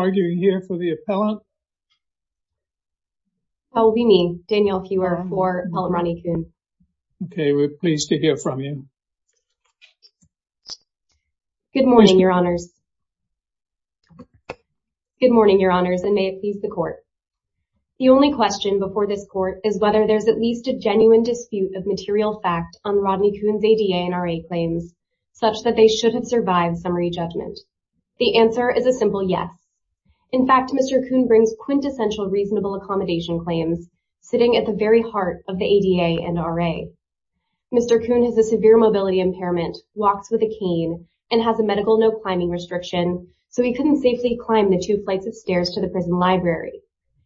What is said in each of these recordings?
Are you here for the appellant? That will be me, Danielle Hewer, for Appellant Rodney Koon. Okay, we're pleased to hear from you. Good morning, Your Honors. Good morning, Your Honors, and may it please the Court. The only question before this Court is whether there's at least a genuine dispute of material fact on Rodney Koon's ADA and RA claims such that they should have survived summary judgment. The answer is a simple yes. In fact, Mr. Koon brings quintessential reasonable accommodation claims sitting at the very heart of the ADA and RA. Mr. Koon has a severe mobility impairment, walks with a cane, and has a medical no-climbing restriction, so he couldn't safely climb the two flights of stairs to the prison library.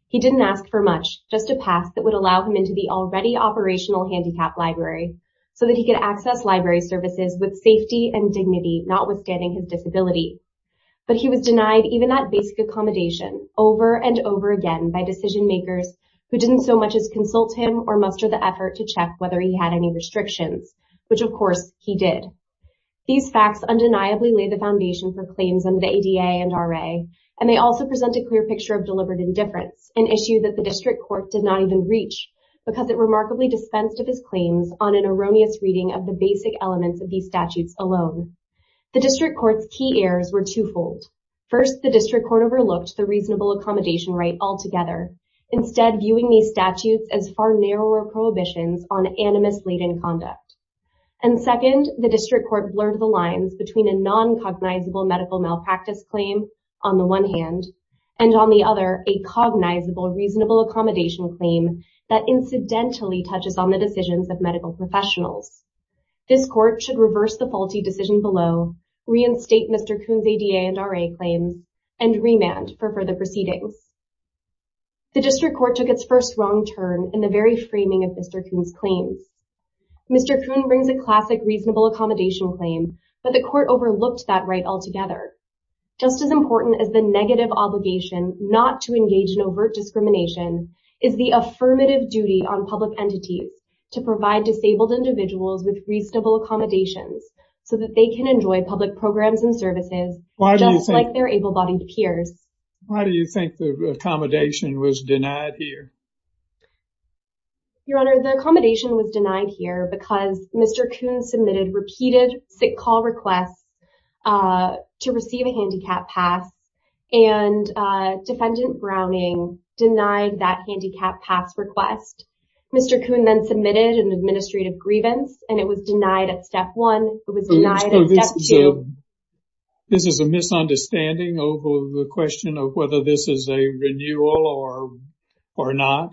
He didn't ask for much, just a pass that would allow him into the already operational handicapped library, so that he could access library services with safety and dignity, notwithstanding his disability. But he was denied even that basic accommodation over and over again by decision-makers who didn't so much as consult him or muster the effort to check whether he had any restrictions, which, of course, he did. These facts undeniably lay the foundation for claims under the ADA and RA, and they also present a clear picture of deliberate indifference, an issue that the District Court did not even reach because it remarkably dispensed of his claims on an erroneous reading of the basic elements of these statutes alone. The District Court's key errors were twofold. First, the District Court overlooked the reasonable accommodation right altogether, instead viewing these statutes as far narrower prohibitions on animus-laden conduct. And second, the District Court blurred the lines between a non-cognizable medical malpractice claim, on the one hand, and on the other, a cognizable reasonable accommodation claim that incidentally touches on the decisions of medical professionals. This Court should reverse the faulty decision below, reinstate Mr. Kuhn's ADA and RA claims, and remand for further proceedings. The District Court took its first wrong turn in the very framing of Mr. Kuhn's claims. Mr. Kuhn brings a classic reasonable accommodation claim, but the Court overlooked that right altogether. Just as important as the negative obligation not to engage in overt discrimination is the affirmative duty on public entities to provide disabled individuals with reasonable accommodations so that they can enjoy public programs and services, just like their able-bodied peers. Why do you think the accommodation was denied here? Your Honor, the accommodation was denied here because Mr. Kuhn submitted repeated sick call requests to receive a handicap pass, and defendant Browning denied that handicap pass request. Mr. Kuhn then submitted an administrative grievance, and it was denied at step one, it was denied at step two. This is a misunderstanding over the question of whether this is a renewal or not?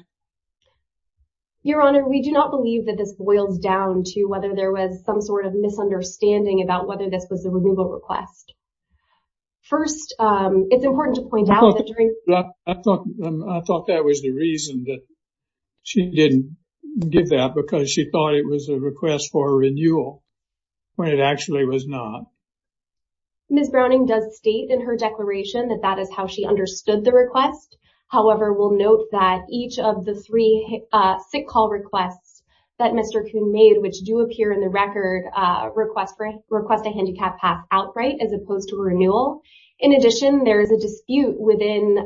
Your Honor, we do not believe that this boils down to whether there was some sort of misunderstanding about whether this was a removal request. First, it's important to point out that during- I thought that was the reason that she didn't give that because she thought it was a request for a renewal when it actually was not. Ms. Browning does state in her declaration that that is how she understood the request. However, we'll note that each of the three sick call requests that Mr. Kuhn made, which do appear in the record, request a handicap pass outright as opposed to a renewal. In addition, there is a dispute within-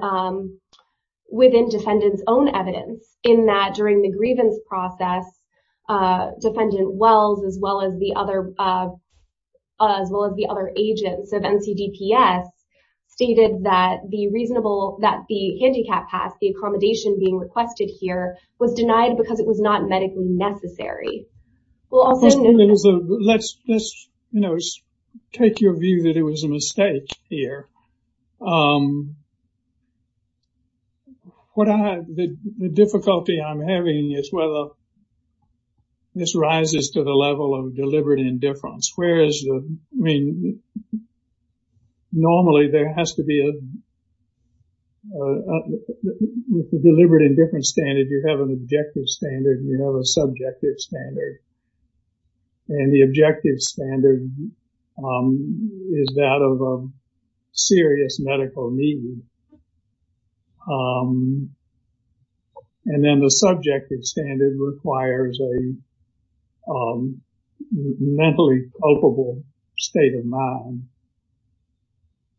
within defendant's own evidence in that during the grievance process, defendant Wells, as well as the other- as well as the other agents of NCDPS, stated that the reasonable- that the handicap pass, the accommodation being requested here, was denied because it was not medically necessary. Well, let's- let's, you know, take your view that it was a mistake here. What I- the difficulty I'm having is whether this rises to the level of deliberate indifference. Whereas, I mean, normally there has to be a- with the deliberate indifference standard, you have an objective standard, you have a subjective standard. And the objective standard is that of a serious medical need. And then the subjective standard requires a mentally culpable state of mind.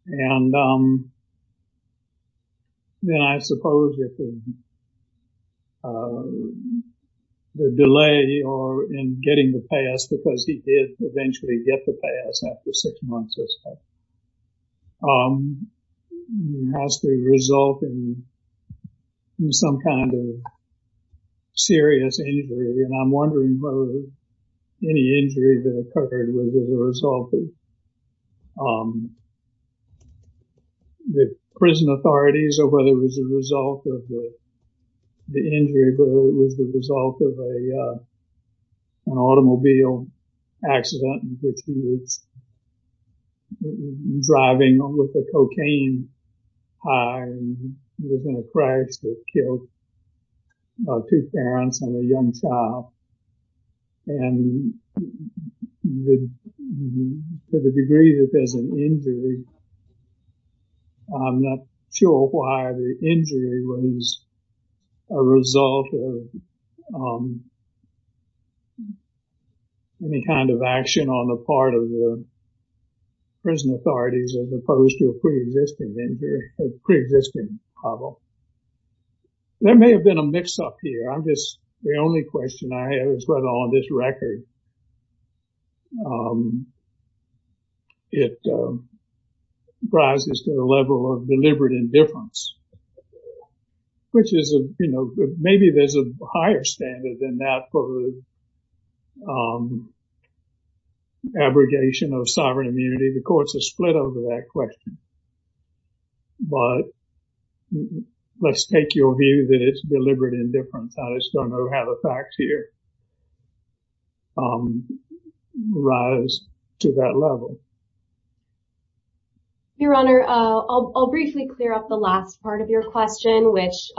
And then I suppose that the delay or in getting the pass, because he did eventually get the pass after six months or so, has to result in some kind of serious injury. And I'm wondering whether any injury that occurred was as a result of the prison authorities or whether it was a result of the injury, but it was the result of a an automobile accident in which he was driving with a cocaine high and was in a crash that killed two parents and a young child. And to the degree that there's an injury, I'm not sure why the injury was a result of any kind of action on the part of the prison authorities as opposed to a pre-existing injury, a pre-existing problem. There may have been a mix-up here. I'm just- the only question I have is whether on this record it rises to the level of deliberate indifference. Which is, you know, maybe there's a higher standard than that for abrogation of sovereign immunity. The courts are split over that question. But let's take your view that it's deliberate indifference. I just don't know how the facts here rise to that level. Your Honor, I'll briefly clear up the last part of your question, which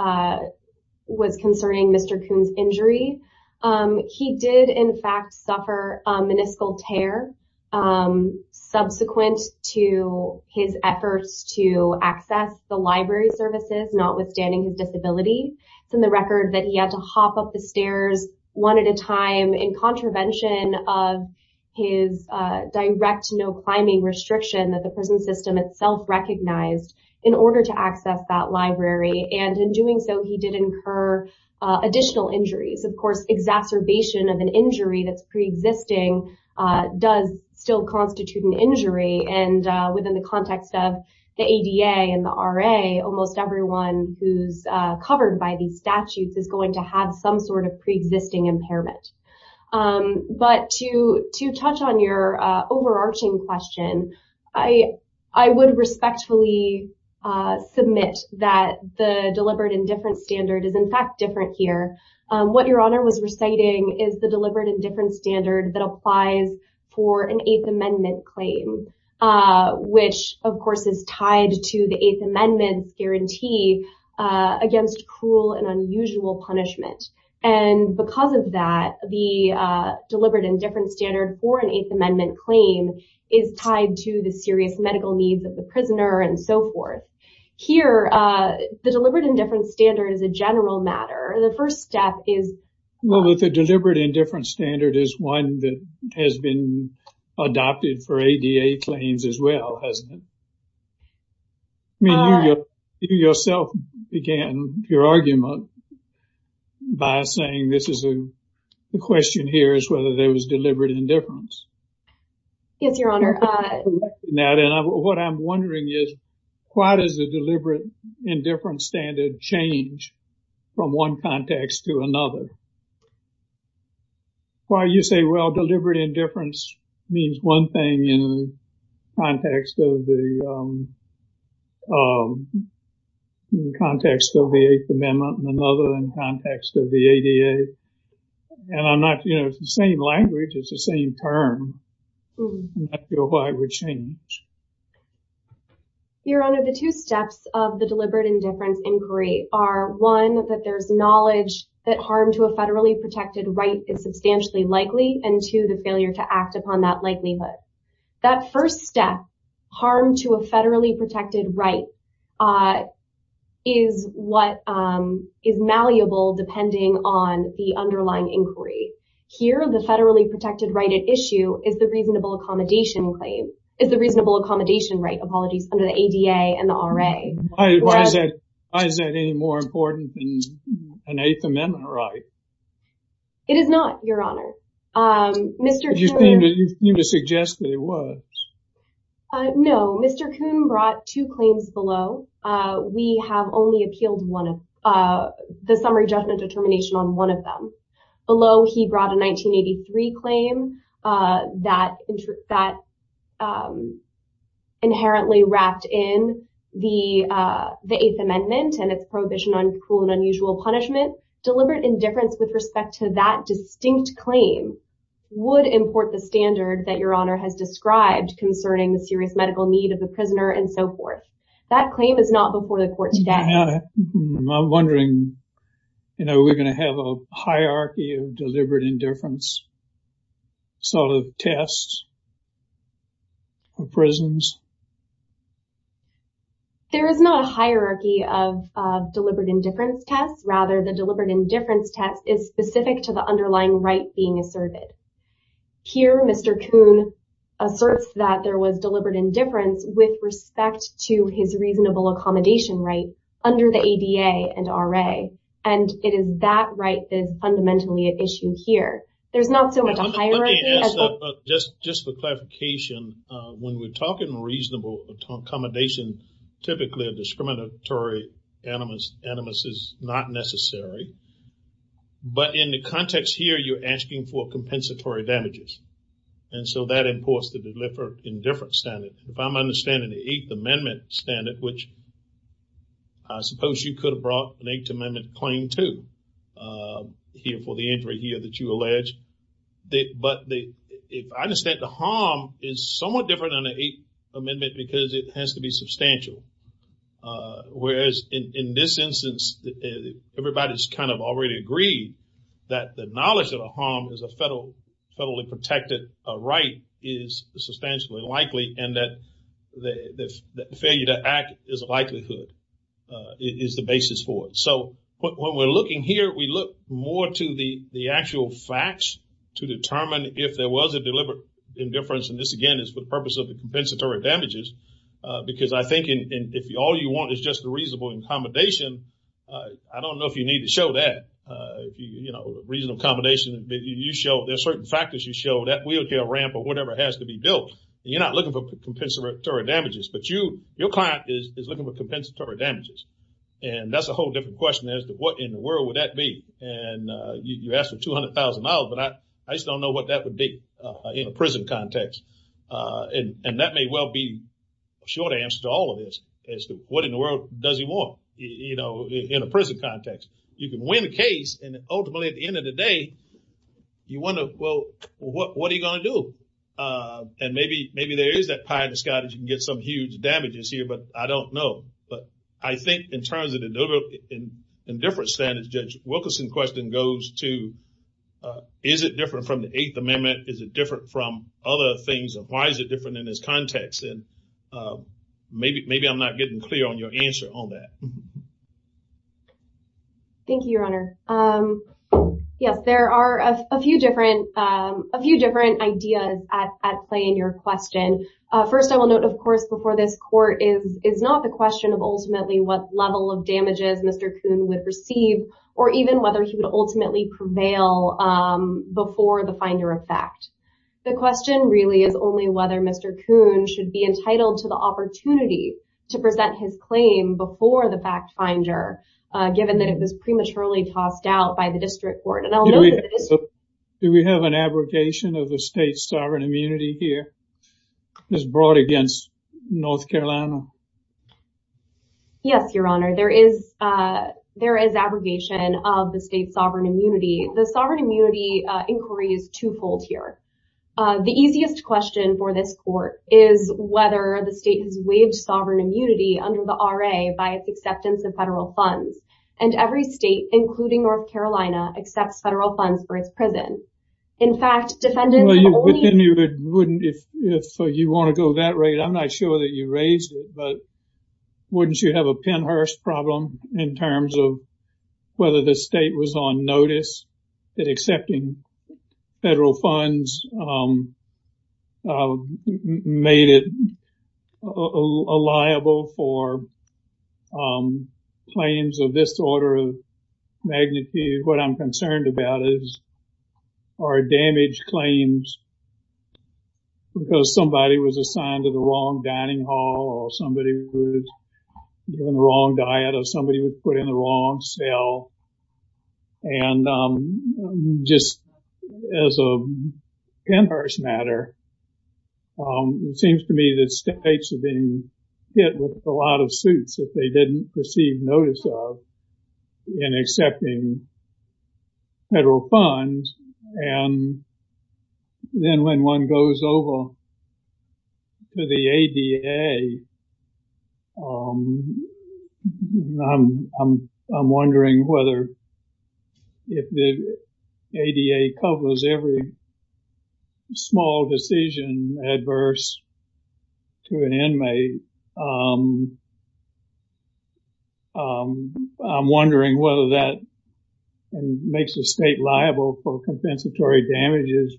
was concerning Mr. Kuhn's injury. He did, in fact, suffer a meniscal tear subsequent to his efforts to access the library services, notwithstanding his disability. It's in the record that he had to hop up the stairs one at a time in contravention of his direct no-climbing restriction that the prison system itself recognized in order to access that library. And in doing so, he did incur additional injuries. Of course, exacerbation of an injury that's pre-existing does still constitute an injury. And within the context of the ADA and the RA, almost everyone who's covered by these statutes is going to have some sort of pre-existing impairment. But to touch on your overarching question, I would respectfully submit that the deliberate indifference standard is, in fact, different here. What Your Honor was reciting is the deliberate indifference standard that applies for an Eighth Amendment claim, which, of course, is tied to the Eighth Amendment's guarantee against cruel and unusual punishment. And because of that, the deliberate indifference standard for an Eighth Amendment claim is tied to the serious medical needs of the prisoner and so forth. Here, the deliberate indifference standard is a general matter. The first step is- Well, the deliberate indifference standard is one that has been adopted for ADA claims as well, hasn't it? I mean, you yourself began your argument by saying this is a- The question here is whether there was deliberate indifference. Yes, Your Honor. And what I'm wondering is, why does the deliberate indifference standard change from one context to another? Why you say, well, deliberate indifference means one thing in the context of the Eighth Amendment and another in the context of the ADA. And I'm not- You know, it's the same language. It's the same term. I'm not sure why it would change. Your Honor, the two steps of the deliberate indifference inquiry are, one, that there's knowledge that harm to a federally protected right is substantially likely, and two, the failure to act upon that likelihood. That first step, harm to a federally protected right, is what is malleable depending on the underlying inquiry. Here, the federally protected right at issue is the reasonable accommodation claim- is the reasonable accommodation right, apologies, under the ADA and the RA. Why is that any more important than an Eighth Amendment right? It is not, Your Honor. Mr. Kuhn- You seem to suggest that it was. No, Mr. Kuhn brought two claims below. We have only appealed the summary judgment determination on one of them. Below, he brought a 1983 claim that inherently wrapped in the Eighth Amendment and its prohibition on cruel and unusual punishment. Deliberate indifference with respect to that distinct claim would import the standard that Your Honor has described concerning the serious medical need of the prisoner and so forth. That claim is not before the court today. I'm wondering, you know, are we going to have a hierarchy of deliberate indifference sort of tests of prisons? There is not a hierarchy of deliberate indifference tests. Rather, the deliberate indifference test is specific to the underlying right being asserted. Here, Mr. Kuhn asserts that there was deliberate indifference with respect to his reasonable accommodation right under the ADA and RA. And it is that right that is fundamentally at issue here. There's not so much a hierarchy as... Just for clarification, when we're talking reasonable accommodation, typically a discriminatory animus is not necessary. But in the context here, you're asking for compensatory damages. And so that imports the deliberate indifference standard. If I'm understanding the Eighth Amendment standard, which I suppose you could have brought an Eighth Amendment claim to here for the injury here that you allege. But I understand the harm is somewhat different under the Eighth Amendment because it has to be substantial. Whereas in this instance, everybody's kind of already agreed that the knowledge of the harm as a federally protected right is substantially likely and that the failure to act is a likelihood, is the basis for it. So when we're looking here, we look more to the actual facts to determine if there was a deliberate indifference. And this, again, is for the purpose of the compensatory damages. Because I think if all you want is just a reasonable accommodation, I don't know if you need to show that, you know, reasonable accommodation. You show there are certain factors you show that wheelchair ramp or whatever has to be built. You're not looking for compensatory damages, but your client is looking for compensatory damages. And that's a whole different question as to what in the world would that be. And you asked for $200,000, but I just don't know what that would be in a prison context. And that may well be a short answer to all of this, as to what in the world does he want, you know, in a prison context. You can win a case and ultimately at the end of the day, you wonder, well, what are you going to do? And maybe there is that pie in the sky that you can get some huge damages here, but I don't know. But I think in terms of the different standards, Judge Wilkerson's question goes to, is it different from the Eighth Amendment? Is it different from other things? Why is it different in this context? And maybe I'm not getting clear on your answer on that. Thank you, Your Honor. Yes, there are a few different ideas at play in your question. First, I will note, of course, before this court is not the question of ultimately what level of damages Mr. Coon would receive or even whether he would ultimately prevail before the finder of fact. The question really is only whether Mr. Coon should be entitled to the opportunity to present his claim before the fact finder, given that it was prematurely tossed out by the district court. Do we have an abrogation of the state's sovereign immunity here? It's brought against North Carolina. Yes, Your Honor. There is abrogation of the state's sovereign immunity. The sovereign immunity inquiry is twofold here. The easiest question for this court is whether the state has waived sovereign immunity under the RA by its acceptance of federal funds. And every state, including North Carolina, accepts federal funds for its prison. In fact, defendants only- But then you wouldn't, if you want to go that rate, I'm not sure that you raised it, but wouldn't you have a Pennhurst problem in terms of whether the state was on notice that accepting federal funds made it liable for claims of this order of magnitude? What I'm concerned about is are damaged claims because somebody was assigned to the wrong dining hall or somebody was given the wrong diet or somebody was put in the wrong cell. And just as a Pennhurst matter, it seems to me that states are being hit with a lot of suits that they didn't receive notice of in accepting federal funds. And then when one goes over to the ADA, I'm wondering whether if the ADA covers every small decision adverse to an inmate, I'm wondering whether that makes the state liable for compensatory damages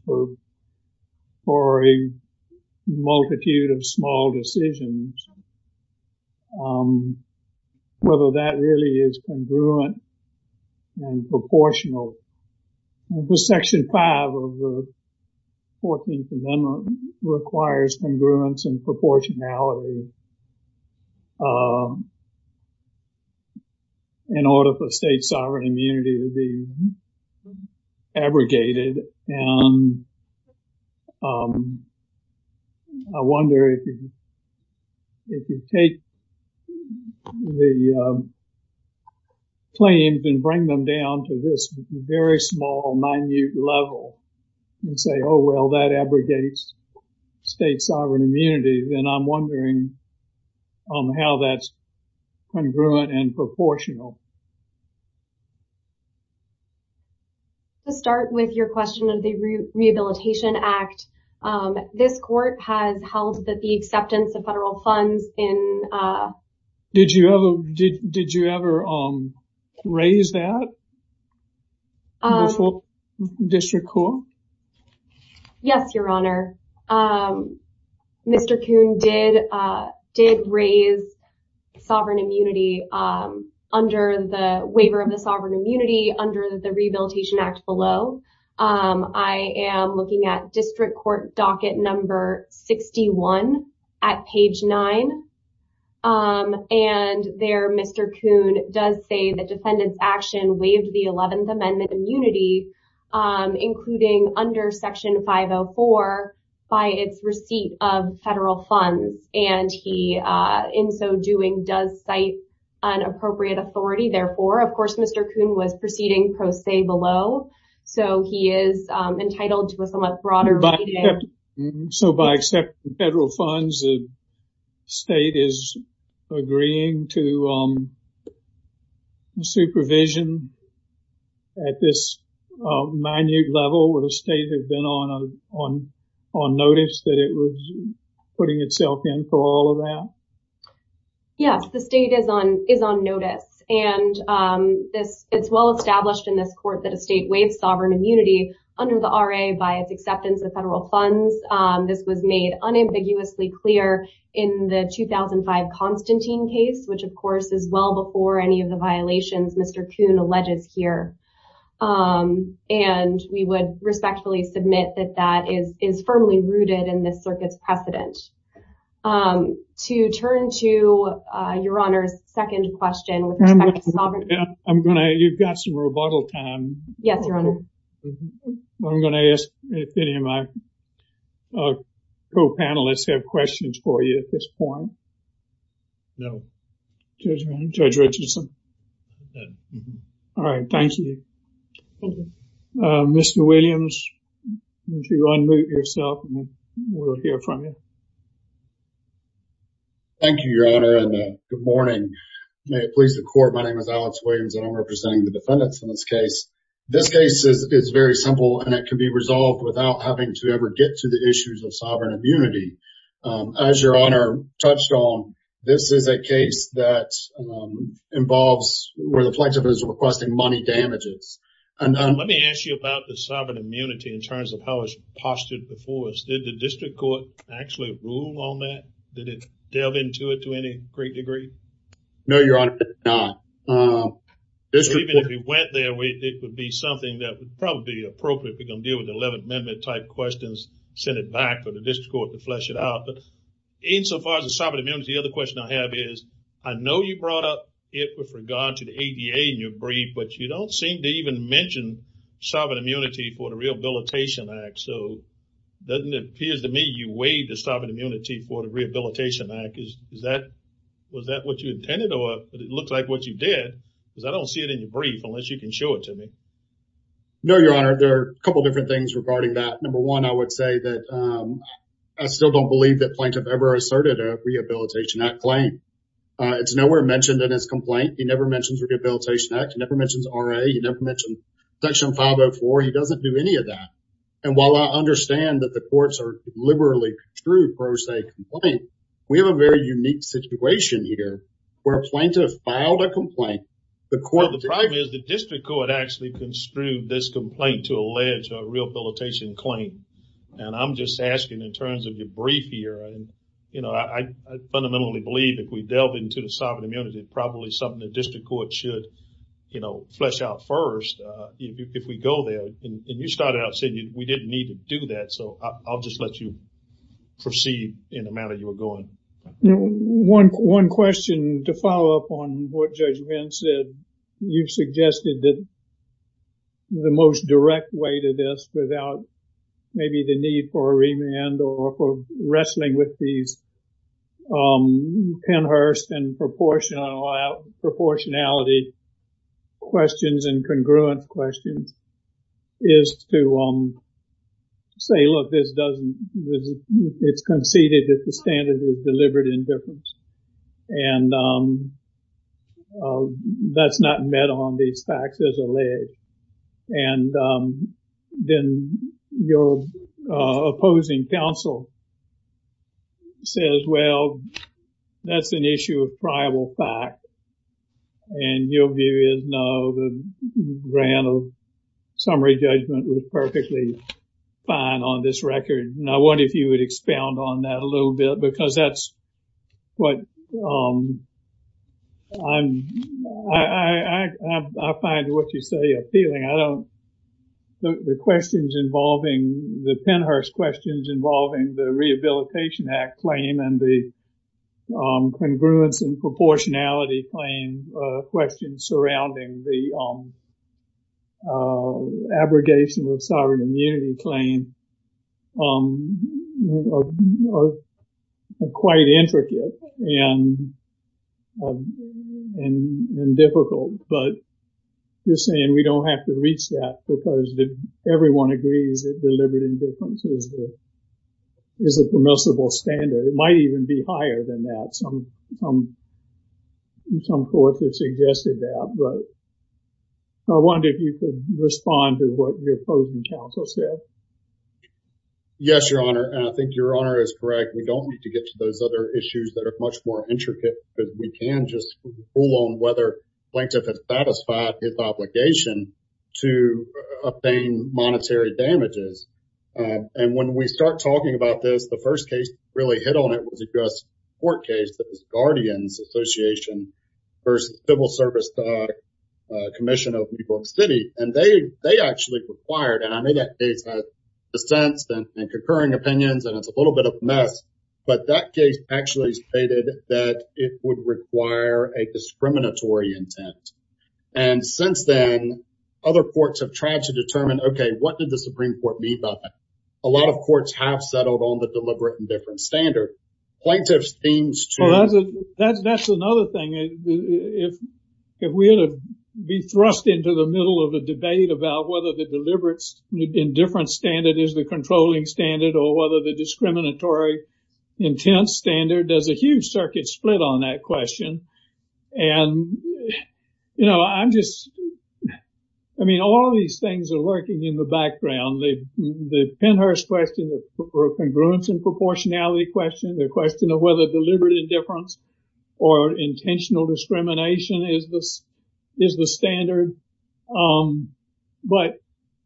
for a multitude of small decisions, whether that really is congruent and proportional. Section 5 of the 14th Amendment requires congruence and proportionality in order for state sovereign immunity to be abrogated. And I wonder if you take the claims and bring them down to this very small, minute level and say, oh, well, that abrogates state sovereign immunity, then I'm wondering how that's congruent and proportional. To start with your question of the Rehabilitation Act, this court has held that the acceptance of federal funds in... Did you ever raise that before district court? Yes, your honor. Mr. Kuhn did raise sovereign immunity under the waiver of the sovereign immunity under the Rehabilitation Act below. I am looking at district court docket number 61 at page 9. And there, Mr. Kuhn does say that defendant's action waived the 11th Amendment immunity, including under section 504 by its receipt of federal funds. And he, in so doing, does cite an appropriate authority. Therefore, of course, Mr. Kuhn was proceeding pro se below. So he is entitled to a somewhat broader... So by accepting federal funds, the state is agreeing to supervision at this minute level or the state has been on notice that it was putting itself in for all of that? Yes, the state is on notice. And it's well established in this court that a state waives sovereign immunity under the RA by its acceptance of federal funds. This was made unambiguously clear in the 2005 Constantine case, which, of course, is well before any of the violations Mr. Kuhn alleges here. And we would respectfully submit that that is firmly rooted in this circuit's precedent. To turn to your Honor's second question with respect to sovereign... I'm going to... You've got some rebuttal time. Yes, your Honor. I'm going to ask if any of my co-panelists have questions for you at this point. No. Judge Richardson. All right. Thank you. Mr. Williams, if you unmute yourself, we'll hear from you. Thank you, your Honor, and good morning. May it please the court. My name is Alex Williams, and I'm representing the defendants in this case. This case is very simple, and it can be resolved without having to ever get to the issues of sovereign immunity. As your Honor touched on, this is a case that involves where the plaintiff is requesting money damages. Let me ask you about the sovereign immunity in terms of how it's postured before us. Did the district court actually rule on that? Did it delve into it to any great degree? No, your Honor, it did not. Even if it went there, it would be something that would probably be appropriate if we're going to deal with 11th Amendment type questions, send it back for the district court to flesh it out. But insofar as the sovereign immunity, the other question I have is, I know you brought up it with regard to the ADA in your brief, but you don't seem to even mention sovereign immunity for the Rehabilitation Act. So doesn't it appear to me you waived the sovereign immunity for the Rehabilitation Act. Is that, was that what you intended or it looks like what you did? Because I don't see it in your brief unless you can show it to me. No, your Honor, there are a couple different things regarding that. Number one, I would say that I still don't believe that Plaintiff ever asserted a Rehabilitation Act claim. It's nowhere mentioned in his complaint. He never mentions Rehabilitation Act. He never mentions RA. He never mentioned Section 504. He doesn't do any of that. And while I understand that the courts are liberally construe pro se complaint, we have a very unique situation here where Plaintiff filed a complaint, the court- The problem is the district court actually construed this complaint to allege a rehabilitation claim. And I'm just asking in terms of your brief here, you know, I fundamentally believe if we delve into the sovereign immunity, it's probably something the district court should, you know, flesh out first if we go there. And you started out saying we didn't need to do that. So I'll just let you proceed in the manner you were going. One question to follow up on what Judge Venn said. You suggested that the most direct way to this without maybe the need for a remand or for wrestling with these ten-hurst and proportionality questions and congruence questions is to say, look, this doesn't- it's conceded that the standard is deliberate indifference. And that's not met on these facts as alleged. And then your opposing counsel says, well, that's an issue of prival fact. And your view is, no, the grant of summary judgment was perfectly fine on this record. Now, what if you would expound on that a little bit? Because that's what I'm- I find what you say appealing. I don't- the questions involving- the ten-hurst questions involving the Rehabilitation Act claim and the congruence and proportionality claim questions surrounding the abrogation of sovereign immunity claim are quite intricate and difficult. But you're saying we don't have to reach that because everyone agrees that deliberate indifference is a permissible standard. It might even be higher than that. Some- some- some courts have suggested that. But I wonder if you could respond to what your opposing counsel said. Yes, Your Honor. And I think Your Honor is correct. We don't need to get to those other issues that are much more intricate. But we can just rule on whether plaintiff has satisfied his obligation to obtain monetary damages. And when we start talking about this, the first case that really hit on it was a U.S. court case that was Guardians Association versus Civil Service Commission of New York City. And they- they actually required- and I know that case has dissents and concurring opinions, and it's a little bit of a mess. But that case actually stated that it would require a discriminatory intent. And since then, other courts have tried to determine, OK, what did the Supreme Court mean by that? A lot of courts have settled on the deliberate indifference standard. Plaintiff's themes to- Well, that's- that's- that's another thing. If- if we were to be thrust into the middle of a debate about whether the deliberate indifference standard is the controlling standard or whether the discriminatory intent standard does a huge circuit split on that question. And, you know, I'm just- I mean, all these things are working in the background. The- the Penhurst question, the congruence and proportionality question, the question of whether deliberate indifference or intentional discrimination is the- is the standard. But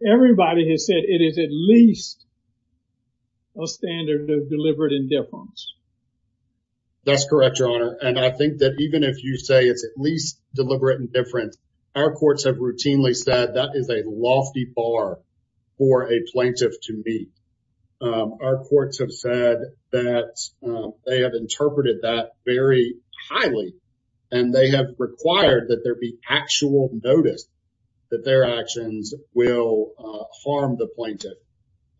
everybody has said it is at least a standard of deliberate indifference. That's correct, Your Honor. And I think that even if you say it's at least deliberate indifference, our courts have routinely said that is a lofty bar for a plaintiff to meet. Our courts have said that they have interpreted that very highly, and they have required that there be actual notice that their actions will harm the plaintiff.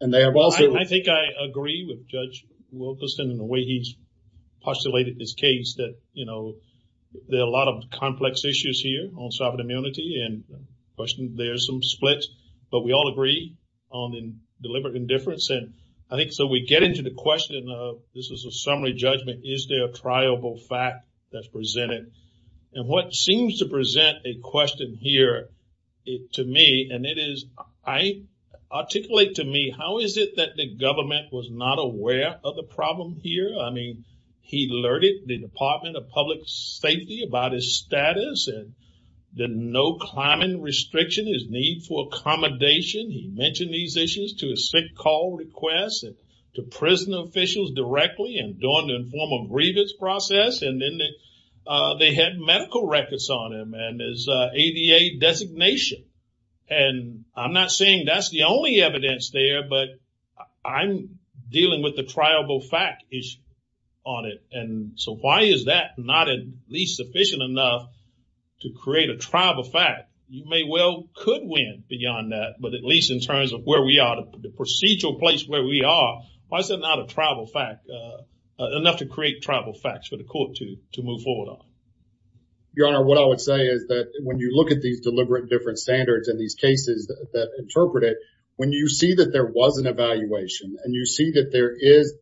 And they have also- I think I agree with Judge Wilkerson in the way he's postulated this case, that, you know, there are a lot of complex issues here on sovereign immunity, and there's some splits, but we all agree on deliberate indifference. And I think so we get into the question of this is a summary judgment. Is there a triable fact that's presented? And what seems to present a question here to me, and it is I articulate to me, how is it that the government was not aware of the problem here? I mean, he alerted the Department of Public Safety about his status, and the no-climbing restriction, his need for accommodation. He mentioned these issues to his sick call requests, and to prison officials directly, and during the informal grievance process, and then they had medical records on him, and his ADA designation. And I'm not saying that's the only evidence there, but I'm dealing with the triable fact issue on it. And so why is that not at least sufficient enough to create a triable fact? You may well could win beyond that, but at least in terms of where we are, the procedural place where we are, why is it not a triable fact, enough to create triable facts for the court to move forward on? Your Honor, what I would say is that when you look at these deliberate indifference standards and these cases that interpret it, when you see that there was an evaluation, and you see that there is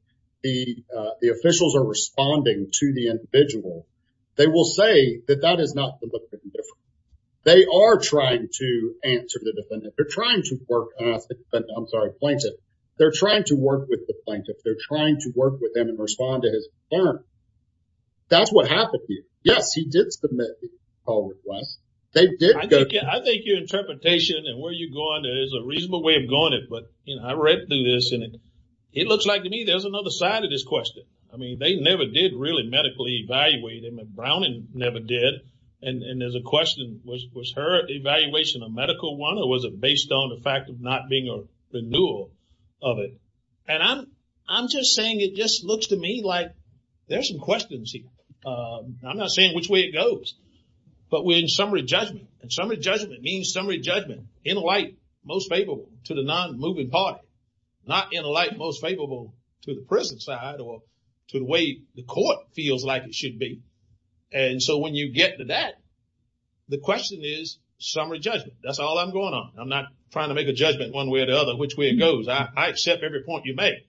the officials are responding to the individual, they will say that that is not deliberate indifference. They are trying to answer the defendant. They're trying to work, I'm sorry, plaintiff. They're trying to work with the plaintiff. They're trying to work with him and respond to his concern. That's what happened to you. Yes, he did submit a call request. I think your interpretation and where you're going is a reasonable way of going it, but I read through this and it looks like to me there's another side of this question. I mean, they never did really medically evaluate him and Browning never did. And there's a question, was her evaluation a medical one or was it based on the fact of not being a renewal of it? And I'm just saying it just looks to me like there's some questions here. I'm not saying which way it goes. But we're in summary judgment and summary judgment means summary judgment in light most favorable to the non-moving party, not in a light most favorable to the prison side or to the way the court feels like it should be. And so when you get to that, the question is summary judgment. That's all I'm going on. I'm not trying to make a judgment one way or the other which way it goes. I accept every point you make.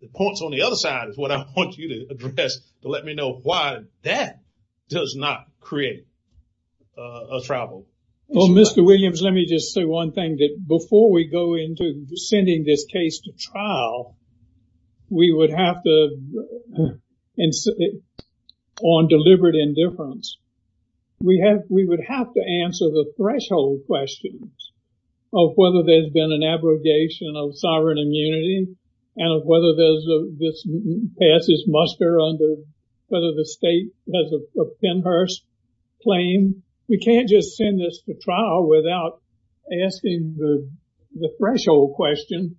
The points on the other side is what I want you to address to let me know why that does not create a trouble. Well, Mr. Williams, let me just say one thing that before we go into sending this case to trial, we would have to, on deliberate indifference, we have we would have to answer the threshold questions of whether there's been an abrogation of sovereign immunity and of whether this passes muster under whether the state has a Pennhurst claim. We can't just send this to trial without asking the threshold question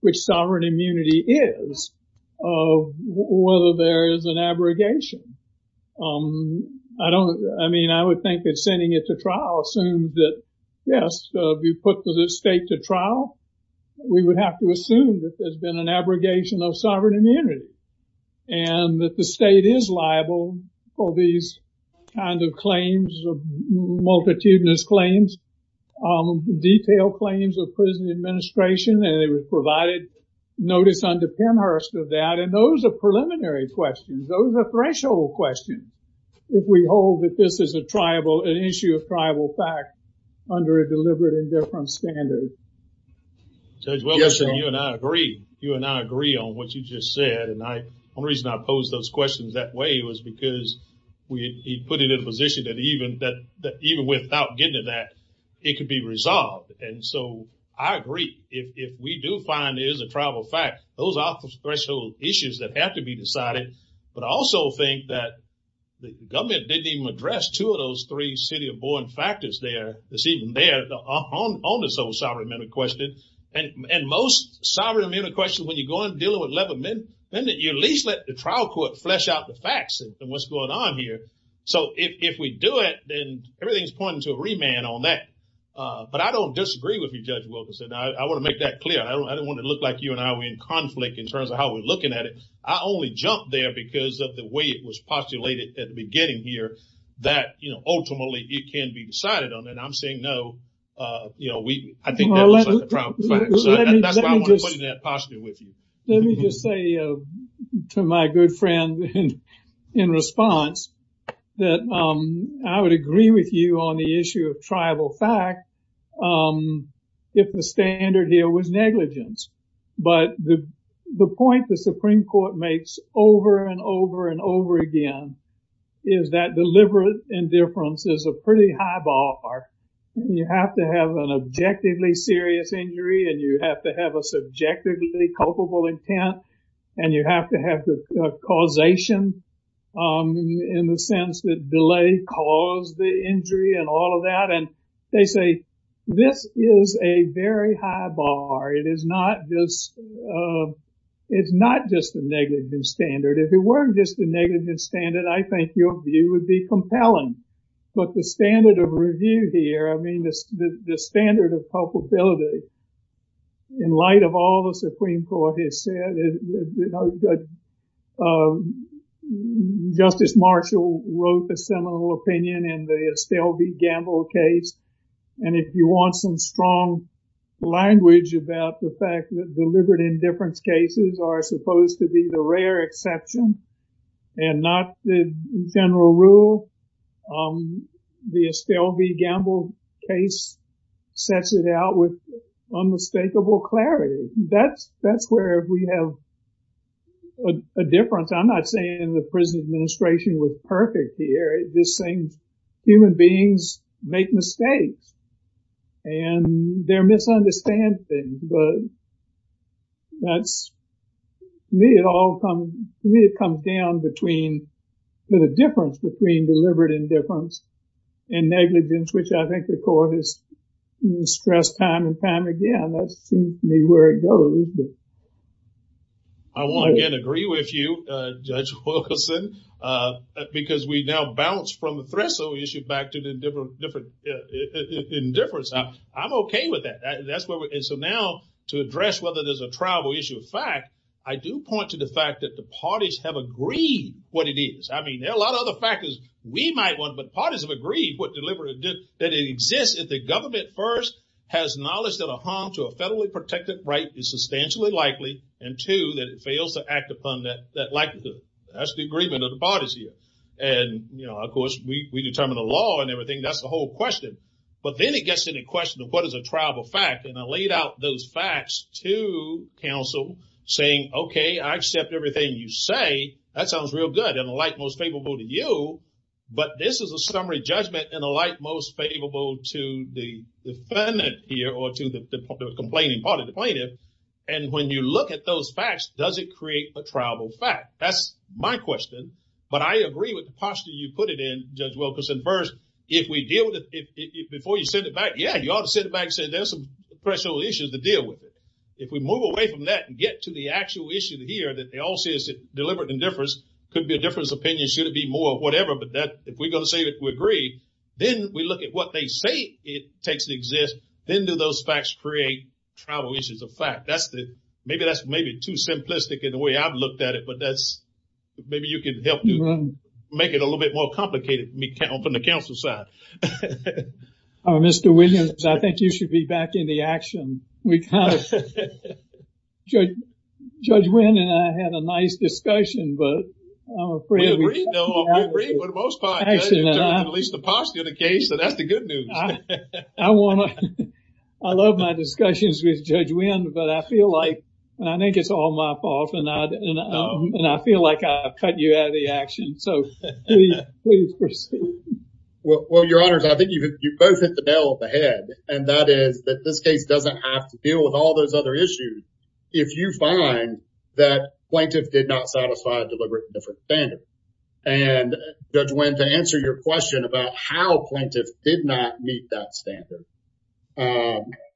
which sovereign immunity is of whether there is an abrogation. I don't, I mean, I would think that sending it to trial assumed that, yes, we put the state to trial. We would have to assume that there's been an abrogation of sovereign immunity and that the state is liable for these kind of claims of multitudinous claims, detailed claims of prison administration, and it was provided notice under Pennhurst of that. And those are preliminary questions. Those are threshold questions. If we hold that this is a tribal, an issue of tribal fact, under a deliberate indifference standard. Judge Williamson, you and I agree. You and I agree on what you just said. And I, one reason I posed those questions that way was because we put it in a position that even without getting to that, it could be resolved. And so I agree. If we do find it is a tribal fact, those are threshold issues that have to be decided. But I also think that the government didn't even address two of those three city of born factors there, that's even there, on this whole sovereign immunity question. And most sovereign immunity questions, when you go and deal with 11 men, then you at least let the trial court flesh out the facts of what's going on here. So if we do it, then everything's pointing to a remand on that. But I don't disagree with you, Judge Wilkinson. I want to make that clear. I don't want to look like you and I were in conflict in terms of how we're looking at it. I only jumped there because of the way it was postulated at the beginning here that, you know, ultimately it can be decided on. And I'm saying no, you know, I think that was a tribal fact. So that's why I wanted to put it in that posture with you. Let me just say to my good friend in response that I would agree with you on the issue of tribal fact if the standard here was negligence. But the point the Supreme Court makes over and over and over again is that deliberate indifference is a pretty high bar. You have to have an objectively serious injury and you have to have a subjectively culpable intent and you have to have the causation in the sense that delay caused the injury and all of that. And they say this is a very high bar. It is not just a negligence standard. If it weren't just a negligence standard, I think your view would be compelling. But the standard of review here, I mean, the standard of culpability in light of all the Supreme Court has said, you know, Justice Marshall wrote a seminal opinion in the Estelle v. Gamble case. And if you want some strong language about the fact that deliberate indifference cases are supposed to be the rare exception and not the general rule, the Estelle v. Gamble case sets it out with unmistakable clarity. That's where we have a difference. I'm not saying the prison administration was perfect here. I'm just saying human beings make mistakes and there are misunderstandings. But that's me. It all comes down to the difference between deliberate indifference and negligence, which I think the court has stressed time and time again. That's where it goes. I want to again agree with you, Judge Wilkerson, because we now bounce from the Threshold issue back to the indifference. I'm OK with that. And so now to address whether there's a tribal issue of fact, I do point to the fact that the parties have agreed what it is. I mean, there are a lot of other factors we might want, but parties have agreed what deliberate indifference is. One, that it exists if the government first has knowledge that a harm to a federally protected right is substantially likely. And two, that it fails to act upon that likelihood. That's the agreement of the parties here. And, you know, of course, we determine the law and everything. That's the whole question. But then it gets to the question of what is a tribal fact. And I laid out those facts to counsel saying, OK, I accept everything you say. That sounds real good and the like most favorable to you. But this is a summary judgment and the like most favorable to the defendant here or to the complaining party, the plaintiff. And when you look at those facts, does it create a tribal fact? That's my question. But I agree with the posture you put it in, Judge Wilkerson. First, if we deal with it before you send it back, yeah, you ought to send it back and say there's some threshold issues to deal with. But if we move away from that and get to the actual issue here that they all say is deliberate indifference, could be a difference of opinion, should it be more of whatever. But if we're going to say that we agree, then we look at what they say it takes to exist. Then do those facts create tribal issues of fact? Maybe that's maybe too simplistic in the way I've looked at it. But maybe you can help make it a little bit more complicated from the counsel side. Mr. Williams, I think you should be back in the action. We kind of, Judge Wynn and I had a nice discussion, but I'm afraid. We agree. We agree with most parts. At least the posture of the case, so that's the good news. I want to, I love my discussions with Judge Wynn, but I feel like, and I think it's all my fault, and I feel like I've cut you out of the action. So, please proceed. Well, Your Honors, I think you both hit the nail on the head, and that is that this case doesn't have to deal with all those other issues if you find that plaintiff did not satisfy a deliberate indifference standard. And, Judge Wynn, to answer your question about how plaintiff did not meet that standard.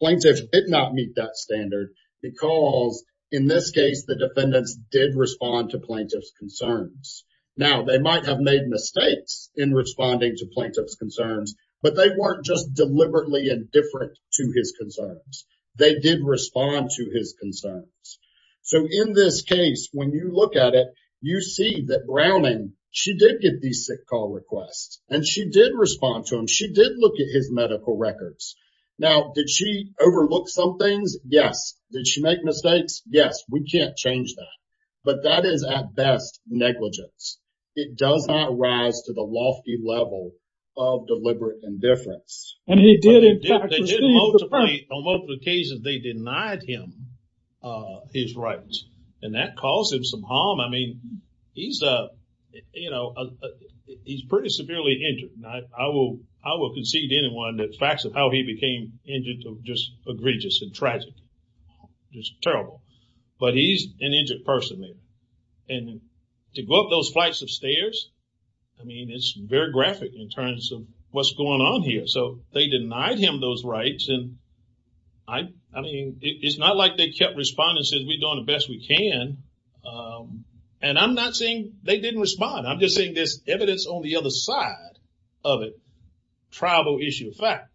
Plaintiff did not meet that standard because, in this case, the defendants did respond to plaintiff's concerns. Now, they might have made mistakes in responding to plaintiff's concerns, but they weren't just deliberately indifferent to his concerns. They did respond to his concerns. So, in this case, when you look at it, you see that Browning, she did get these sick call requests, and she did respond to them. She did look at his medical records. Now, did she overlook some things? Yes. Did she make mistakes? Yes. We can't change that. But that is, at best, negligence. It does not rise to the lofty level of deliberate indifference. And he did, in fact, receive the firm. On multiple occasions, they denied him his rights, and that caused him some harm. I mean, he's, you know, he's pretty severely injured. I will concede to anyone that facts of how he became injured are just egregious and tragic, just terrible. But he's an injured person. And to go up those flights of stairs, I mean, it's very graphic in terms of what's going on here. So, they denied him those rights, and I mean, it's not like they kept responding and said, we're doing the best we can. And I'm not saying they didn't respond. I'm just saying there's evidence on the other side of a tribal issue of fact.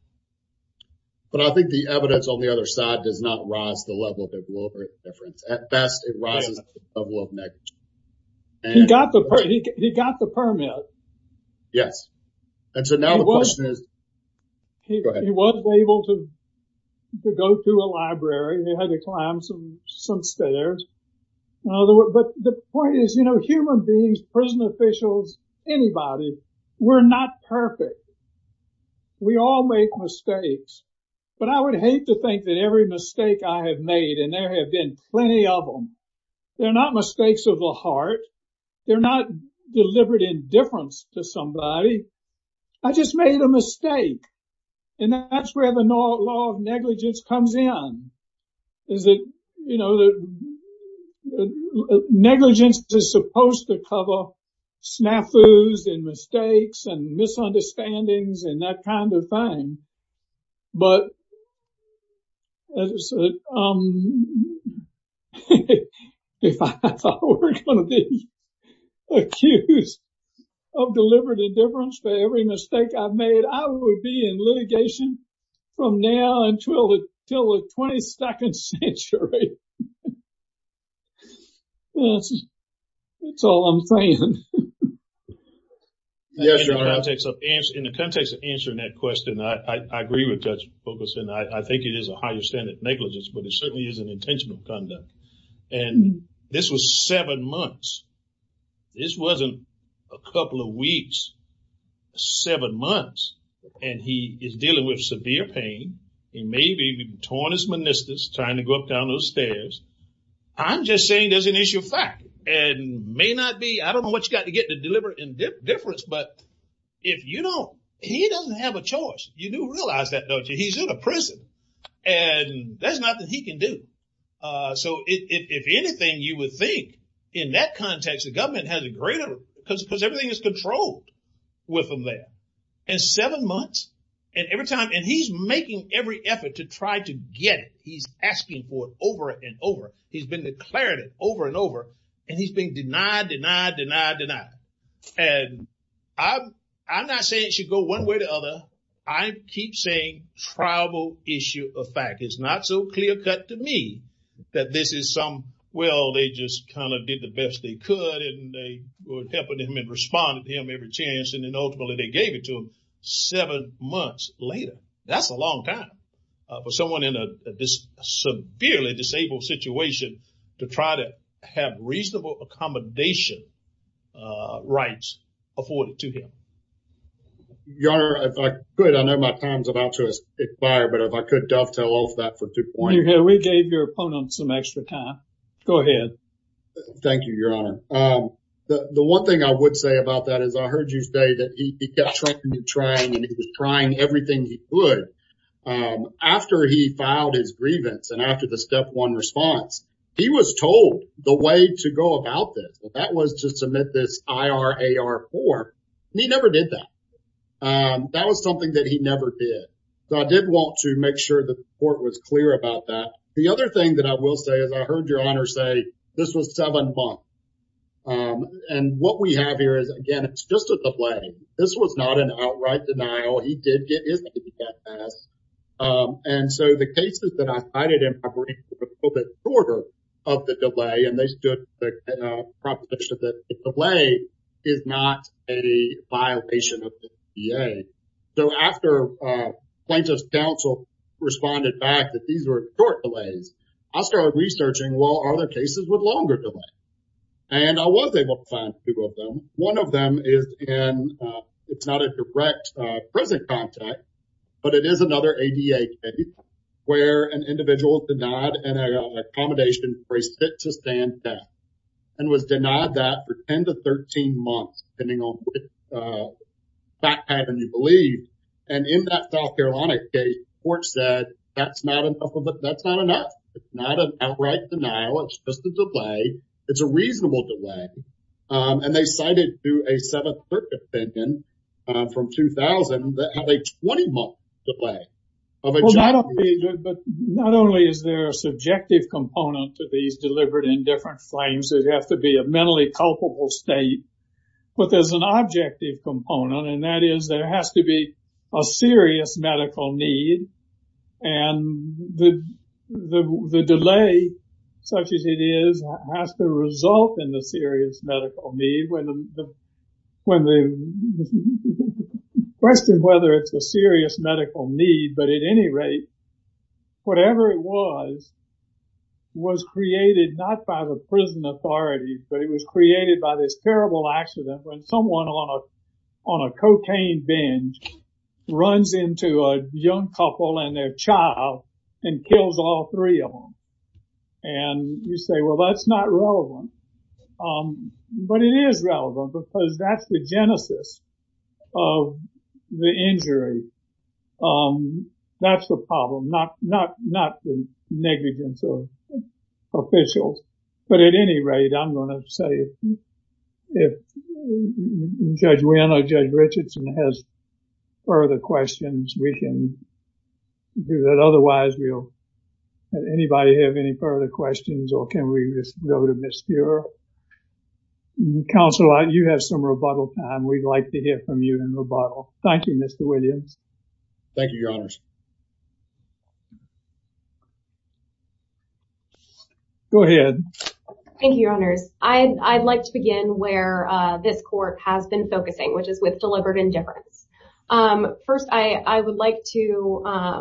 But I think the evidence on the other side does not rise to the level of deliberate indifference. At best, it rises to the level of negligence. He got the permit. Yes. And so now the question is, go ahead. He was able to go to a library. He had to climb some stairs. But the point is, you know, human beings, prison officials, anybody, we're not perfect. We all make mistakes. But I would hate to think that every mistake I have made, and there have been plenty of them, they're not mistakes of the heart. They're not deliberate indifference to somebody. I just made a mistake. And that's where the law of negligence comes in. Is that, you know, negligence is supposed to cover snafus and mistakes and misunderstandings and that kind of thing. But if I were going to be accused of deliberate indifference for every mistake I've made, I would be in litigation from now until the 22nd century. That's all I'm saying. Yes, Your Honor. In the context of answering that question, I agree with Judge Fulkerson. I think it is a higher standard of negligence, but it certainly is an intentional conduct. And this was seven months. This wasn't a couple of weeks. Seven months. And he is dealing with severe pain. He may be torn his meniscus, trying to go up and down those stairs. I'm just saying there's an issue of fact. And may not be, I don't know what you've got to get to deliberate indifference, but if you don't, he doesn't have a choice. You do realize that, don't you? He's in a prison. And there's nothing he can do. So if anything, you would think in that context, the government has a greater, because everything is controlled with them there. And seven months, and every time, and he's making every effort to try to get it. He's asking for it over and over. He's been declaring it over and over. And he's been denied, denied, denied, denied. And I'm not saying it should go one way or the other. I keep saying tribal issue of fact. It's not so clear cut to me that this is some, well, they just kind of did the best they could. And they were helping him and responded to him every chance. And then ultimately they gave it to him seven months later. That's a long time. For someone in a severely disabled situation to try to have reasonable accommodation rights afforded to him. Your good. I know my time's about to expire. But if I could dovetail off that for 2.0, we gave your opponent some extra time. Go ahead. Thank you, Your Honor. The one thing I would say about that is I heard you say that he kept trying and trying and trying everything. Good. After he filed his grievance and after the step one response, he was told the way to go about this. That was to submit this. I are a R4. He never did that. That was something that he never did. So I did want to make sure the court was clear about that. The other thing that I will say is I heard your honor say this was seven months. And what we have here is, again, it's just a play. This was not an outright denial. He did get his. And so the cases that I cited in a little bit shorter of the delay and they stood proposition that the delay is not a violation of the EA. So after plaintiff's counsel responded back that these were short delays, I started researching, well, are there cases with longer delay? And I was able to find two of them. One of them is and it's not a direct prison contact, but it is another A.D.A. case where an individual is denied an accommodation for a sit to stand death and was denied that for 10 to 13 months, depending on what happened, you believe. And in that South Carolina case, court said that's not enough of it. That's not enough. It's not an outright denial. It's just a delay. It's a reasonable delay. And they cited to a 7th Circuit opinion from 2000 that have a 20 month delay of a job. But not only is there a subjective component to these delivered in different frames, it has to be a mentally culpable state. But there's an objective component. And that is there has to be a serious medical need. And the delay such as it is has to result in the serious medical need. When the question of whether it's a serious medical need, but at any rate, whatever it was, was created not by the prison authority, but it was created by this terrible accident when someone on a cocaine binge runs into a young couple and their child and kills all three of them. And you say, well, that's not relevant. But it is relevant because that's the genesis of the injury. That's the problem. Not the negligence of officials. But at any rate, I'm going to say if Judge Wynn or Judge Richardson has further questions, we can do that. Otherwise, we'll let anybody have any further questions or can we just go to Ms. Cure. Counsel, you have some rebuttal time. We'd like to hear from you in rebuttal. Thank you, Mr. Williams. Thank you, Your Honors. Go ahead. Thank you, Your Honors. I'd like to begin where this court has been focusing, which is with deliberate indifference. First, I would like to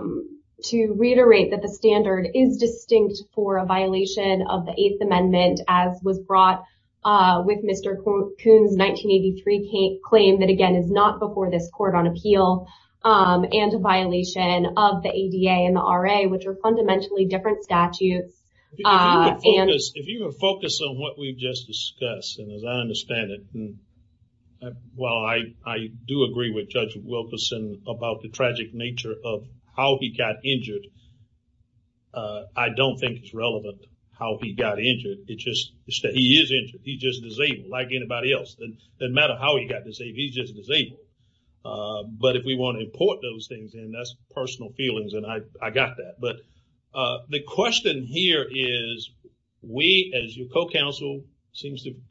reiterate that the standard is distinct for a violation of the Eighth Amendment as was brought with Mr. Kuhn's 1983 claim that, again, is not before this court on appeal and a violation of the ADA and the RA, which are fundamentally different statutes. If you would focus on what we've just discussed, and as I understand it, while I do agree with Judge Wilkerson about the tragic nature of how he got injured, I don't think it's relevant how he got injured. It's just that he is injured. He's just disabled like anybody else. It doesn't matter how he got disabled. He's just disabled. But if we want to import those things in, that's personal feelings, and I got that. But the question here is we, as your co-counsel, we've seen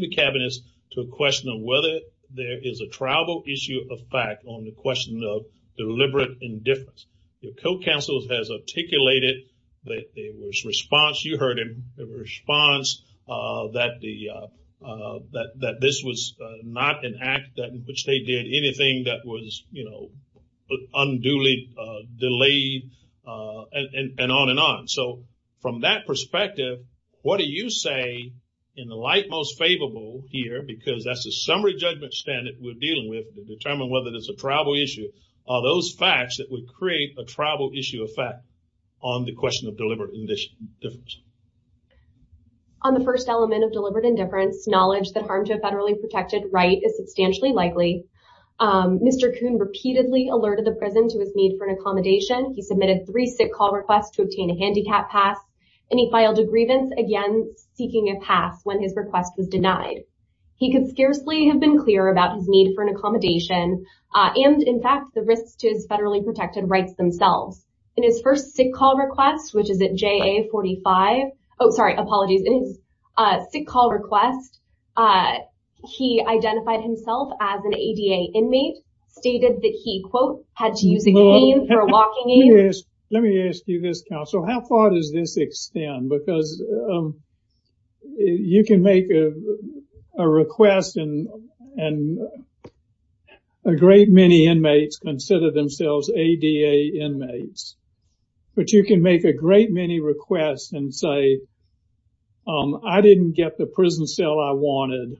the cabinets to a question of whether there is a tribal issue of fact on the question of deliberate indifference. Your co-counsel has articulated that there was response, you heard him, a response that this was not an act in which they did anything that was unduly delayed, and on and on. So from that perspective, what do you say, in the light most favorable here, because that's the summary judgment standard we're dealing with to determine whether there's a tribal issue, are those facts that would create a tribal issue of fact on the question of deliberate indifference? On the first element of deliberate indifference, knowledge that harm to a federally protected right is substantially likely. Mr. Kuhn repeatedly alerted the prison to his need for an accommodation. He submitted three sick call requests to obtain a handicap pass, and he filed a grievance, again, seeking a pass when his request was denied. He could scarcely have been clear about his need for an accommodation and, in fact, the risks to his federally protected rights themselves. In his first sick call request, which is at JA45, oh, sorry, apologies. In his sick call request, he identified himself as an ADA inmate, stated that he, quote, had to use a cane for a walking aid. Let me ask you this, counsel. How far does this extend? Because you can make a request and a great many inmates consider themselves ADA inmates. But you can make a great many requests and say, I didn't get the prison cell I wanted,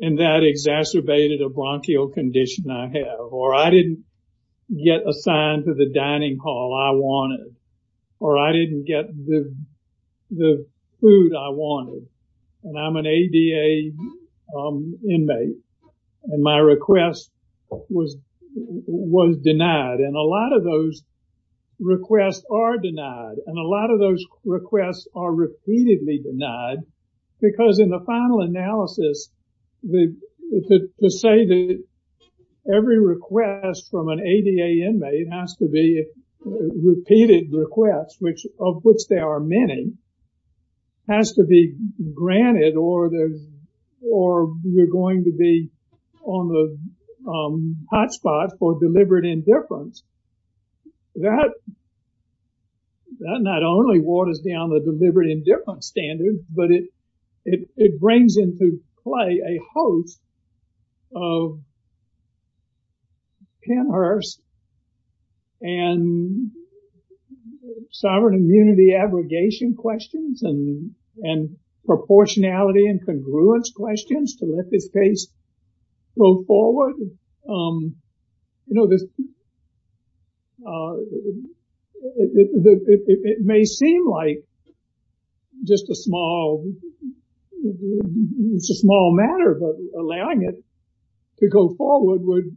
and that exacerbated a bronchial condition I have. Or I didn't get assigned to the dining hall I wanted. Or I didn't get the food I wanted. And I'm an ADA inmate. And my request was denied. And a lot of those requests are denied. And a lot of those requests are repeatedly denied. Because in the final analysis, to say that every request from an ADA inmate has to be a repeated request, of which there are many, has to be granted or you're going to be on the hot spot for deliberate indifference. That not only waters down the deliberate indifference standard, but it brings into play a host of pin hearse and sovereign immunity abrogation questions and proportionality and congruence questions to let this case go forward. It may seem like just a small matter, but allowing it to go forward would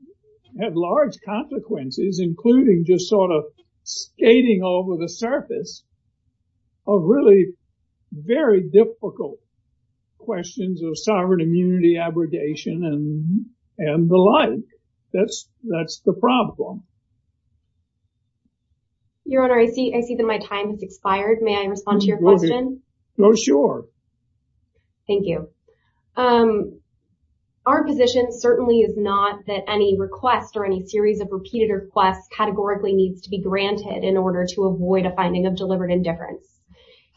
have large consequences, including just sort of skating over the surface of really very difficult questions of sovereign immunity abrogation and the like. That's the problem. Your Honor, I see that my time has expired. May I respond to your question? Oh, sure. Thank you. Our position certainly is not that any request or any series of repeated requests categorically needs to be granted in order to avoid a finding of deliberate indifference.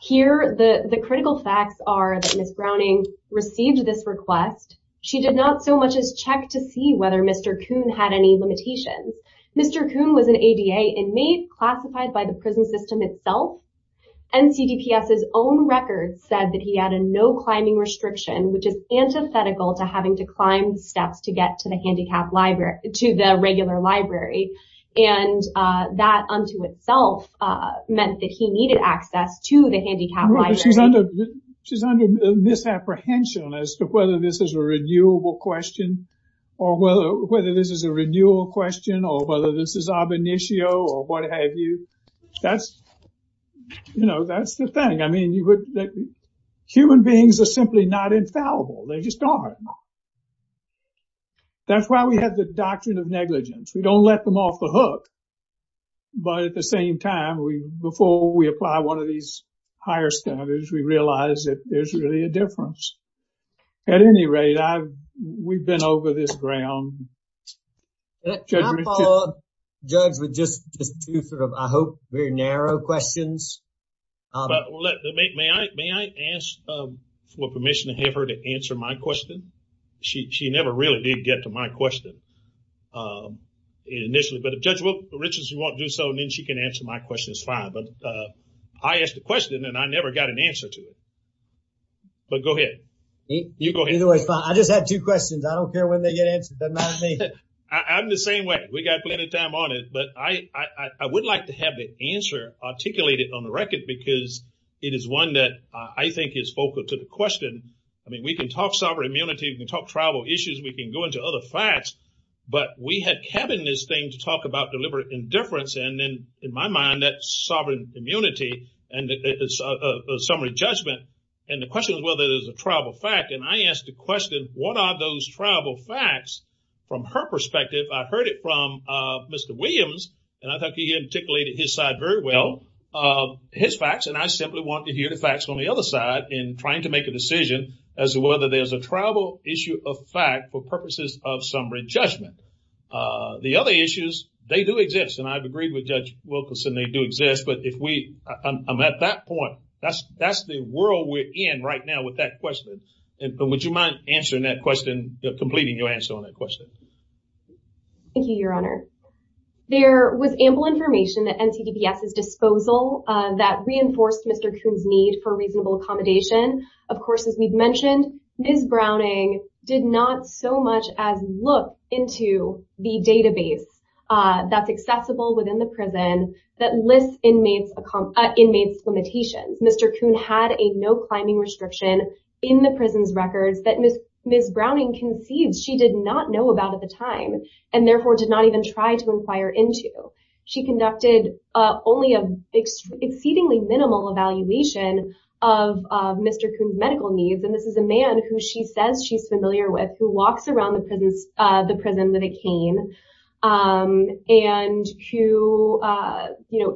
Here, the critical facts are that Ms. Browning received this request. She did not so much as check to see whether Mr. Kuhn had any limitations. Mr. Kuhn was an ADA inmate classified by the prison system itself. NCDPS's own records said that he had a no-climbing restriction, which is antithetical to having to climb steps to get to the regular library, and that unto itself meant that he needed access to the handicapped library. She's under misapprehension as to whether this is a renewable question or whether this is a renewal question or whether this is ab initio or what have you. That's the thing. I mean, human beings are simply not infallible. They just aren't. That's why we have the doctrine of negligence. We don't let them off the hook. But at the same time, before we apply one of these higher standards, we realize that there's really a difference. At any rate, we've been over this ground. I'll follow up, Judge, with just two sort of, I hope, very narrow questions. May I ask for permission to have her to answer my question? She never really did get to my question initially. But if Judge Richardson won't do so, then she can answer my question. It's fine. But I asked the question, and I never got an answer to it. But go ahead. You go ahead. Either way is fine. I just had two questions. I don't care when they get answered. It doesn't matter to me. I'm the same way. We've got plenty of time on it. But I would like to have the answer articulated on the record because it is one that I think is focal to the question. I mean, we can talk sovereign immunity. We can talk tribal issues. We can go into other facts. But we have kept in this thing to talk about deliberate indifference. And in my mind, that's sovereign immunity and summary judgment. And the question is whether it is a tribal fact. And I asked the question, what are those tribal facts? From her perspective, I heard it from Mr. Williams, and I think he articulated his side very well, his facts. And I simply want to hear the facts on the other side in trying to make a decision as to whether there's a tribal issue of fact for purposes of summary judgment. The other issues, they do exist. And I've agreed with Judge Wilkerson, they do exist. But I'm at that point. That's the world we're in right now with that question. Would you mind answering that question, completing your answer on that question? Thank you, Your Honor. There was ample information at NCDPS's disposal that reinforced Mr. Kuhn's need for reasonable accommodation. Of course, as we've mentioned, Ms. Browning did not so much as look into the database that's accessible within the prison that lists inmates' limitations. Mr. Kuhn had a no-climbing restriction in the prison's records that Ms. Browning concedes she did not know about at the time, and therefore did not even try to inquire into. She conducted only an exceedingly minimal evaluation of Mr. Kuhn's medical needs. And this is a man who she says she's familiar with, who walks around the prison with a cane, and who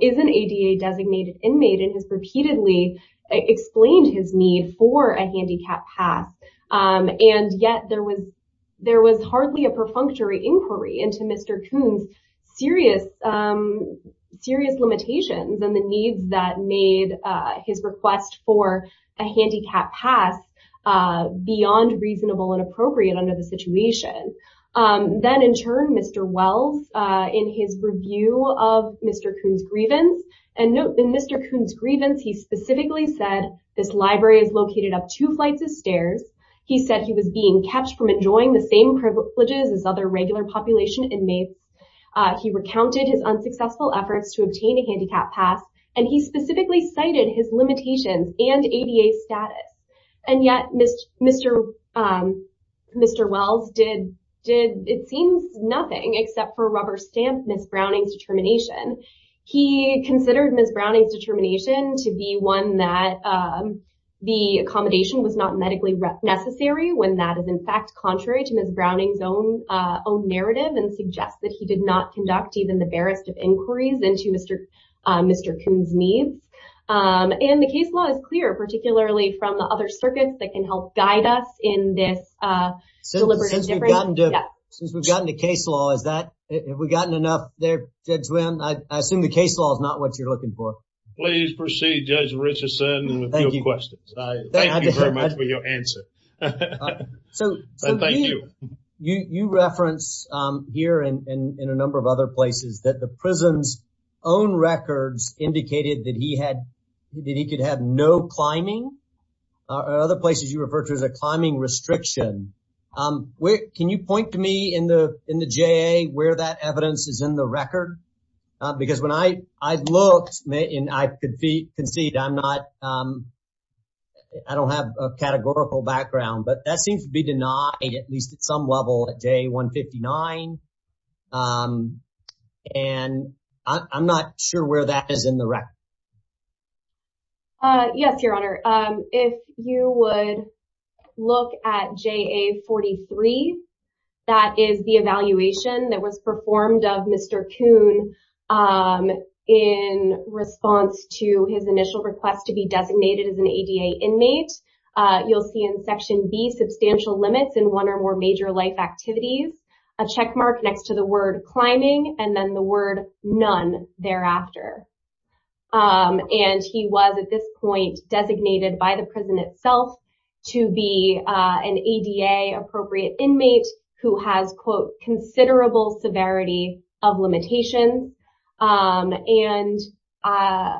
is an ADA-designated inmate and has repeatedly explained his need for a handicap pass. And yet there was hardly a perfunctory inquiry into Mr. Kuhn's serious limitations and the needs that made his request for a handicap pass beyond reasonable and appropriate under the situation. Then in turn, Mr. Wells, in his review of Mr. Kuhn's grievance, he specifically said this library is located up two flights of stairs. He said he was being kept from enjoying the same privileges as other regular population inmates. He recounted his unsuccessful efforts to obtain a handicap pass, and he specifically cited his limitations and ADA status. And yet Mr. Wells did, it seems, nothing except for rubber stamp Ms. Browning's determination. He considered Ms. Browning's determination to be one that the accommodation was not medically necessary, when that is in fact contrary to Ms. Browning's own narrative and suggests that he did not conduct even the barest of inquiries into Mr. Kuhn's needs. And the case law is clear, particularly from the other circuits that can help guide us in this deliberate inquiry. Since we've gotten to case law, is that, have we gotten enough there, Judge Wynn? I assume the case law is not what you're looking for. Please proceed, Judge Richardson, with your questions. Thank you very much for your answer. So you reference here and in a number of other places that the prison's own records indicated that he had, that he could have no climbing. Other places you refer to as a climbing restriction. Can you point to me in the JA where that evidence is in the record? Because when I looked, and I concede I'm not, I don't have a categorical background, but that seems to be denied at least at some level at JA 159. And I'm not sure where that is in the record. Yes, Your Honor. If you would look at JA 43, that is the evaluation that was performed of Mr. Kuhn in response to his initial request to be designated as an ADA inmate. You'll see in Section B substantial limits in one or more major life activities, a checkmark next to the word climbing, and then the word none thereafter. And he was at this point designated by the prison itself to be an ADA appropriate inmate who has, quote, considerable severity of limitation. And I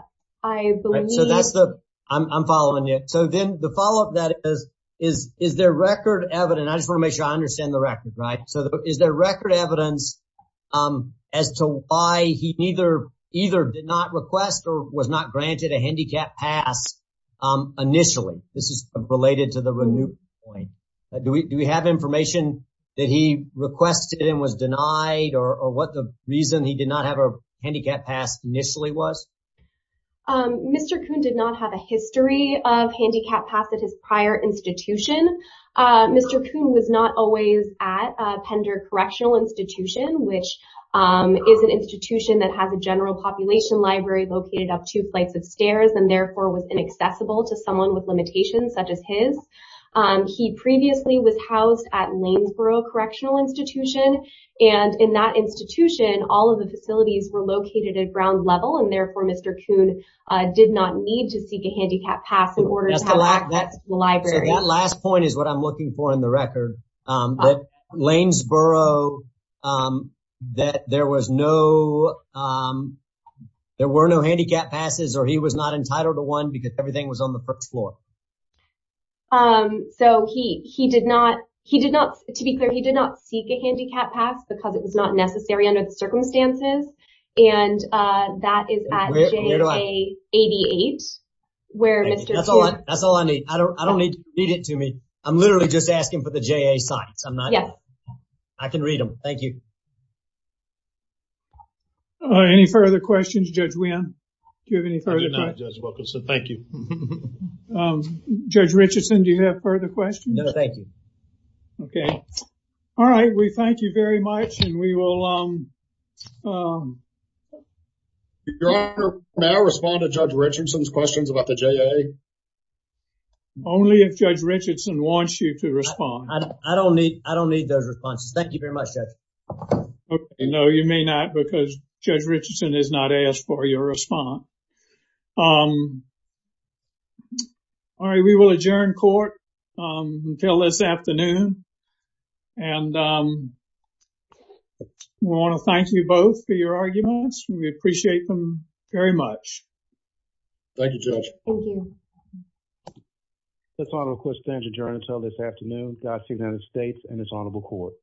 believe... So that's the, I'm following it. So then the follow up that is, is there record evidence, I just want to make sure I understand the record, right? So is there record evidence as to why he either did not request or was not granted a handicap pass initially? This is related to the renew point. Do we have information that he requested and was denied or what the reason he did not have a handicap pass initially was? Mr. Kuhn did not have a history of handicap pass at his prior institution. Mr. Kuhn was not always at Pender Correctional Institution, which is an institution that has a general population library located up two flights of stairs and therefore was inaccessible to someone with limitations such as his. He previously was housed at Lanesboro Correctional Institution. And in that institution, all of the facilities were located at ground level. And therefore, Mr. Kuhn did not need to seek a handicap pass in order to have access to the library. So that last point is what I'm looking for in the record, that Lanesboro, that there was no, there were no handicap passes or he was not entitled to one because everything was on the first floor. So he, he did not, he did not, to be clear, he did not seek a handicap pass because it was not necessary under the circumstances. And that is at JA 88, where Mr. Kuhn... That's all I need. I don't need, read it to me. I'm literally just asking for the JA sites. I'm not... Yeah. I can read them. Thank you. Any further questions, Judge Wynn? Do you have any further questions? No, Judge Wilkinson, thank you. Judge Richardson, do you have further questions? No, thank you. Okay. All right. We thank you very much and we will... Your Honor, may I respond to Judge Richardson's questions about the JA? Only if Judge Richardson wants you to respond. I don't need, I don't need those responses. Thank you very much, Judge. Okay, no, you may not because Judge Richardson has not asked for your response. All right. We will adjourn court until this afternoon. And we want to thank you both for your arguments. We appreciate them very much. Thank you, Judge. Thank you. This Honorable Court stands adjourned until this afternoon. Dodged the United States and this Honorable Court.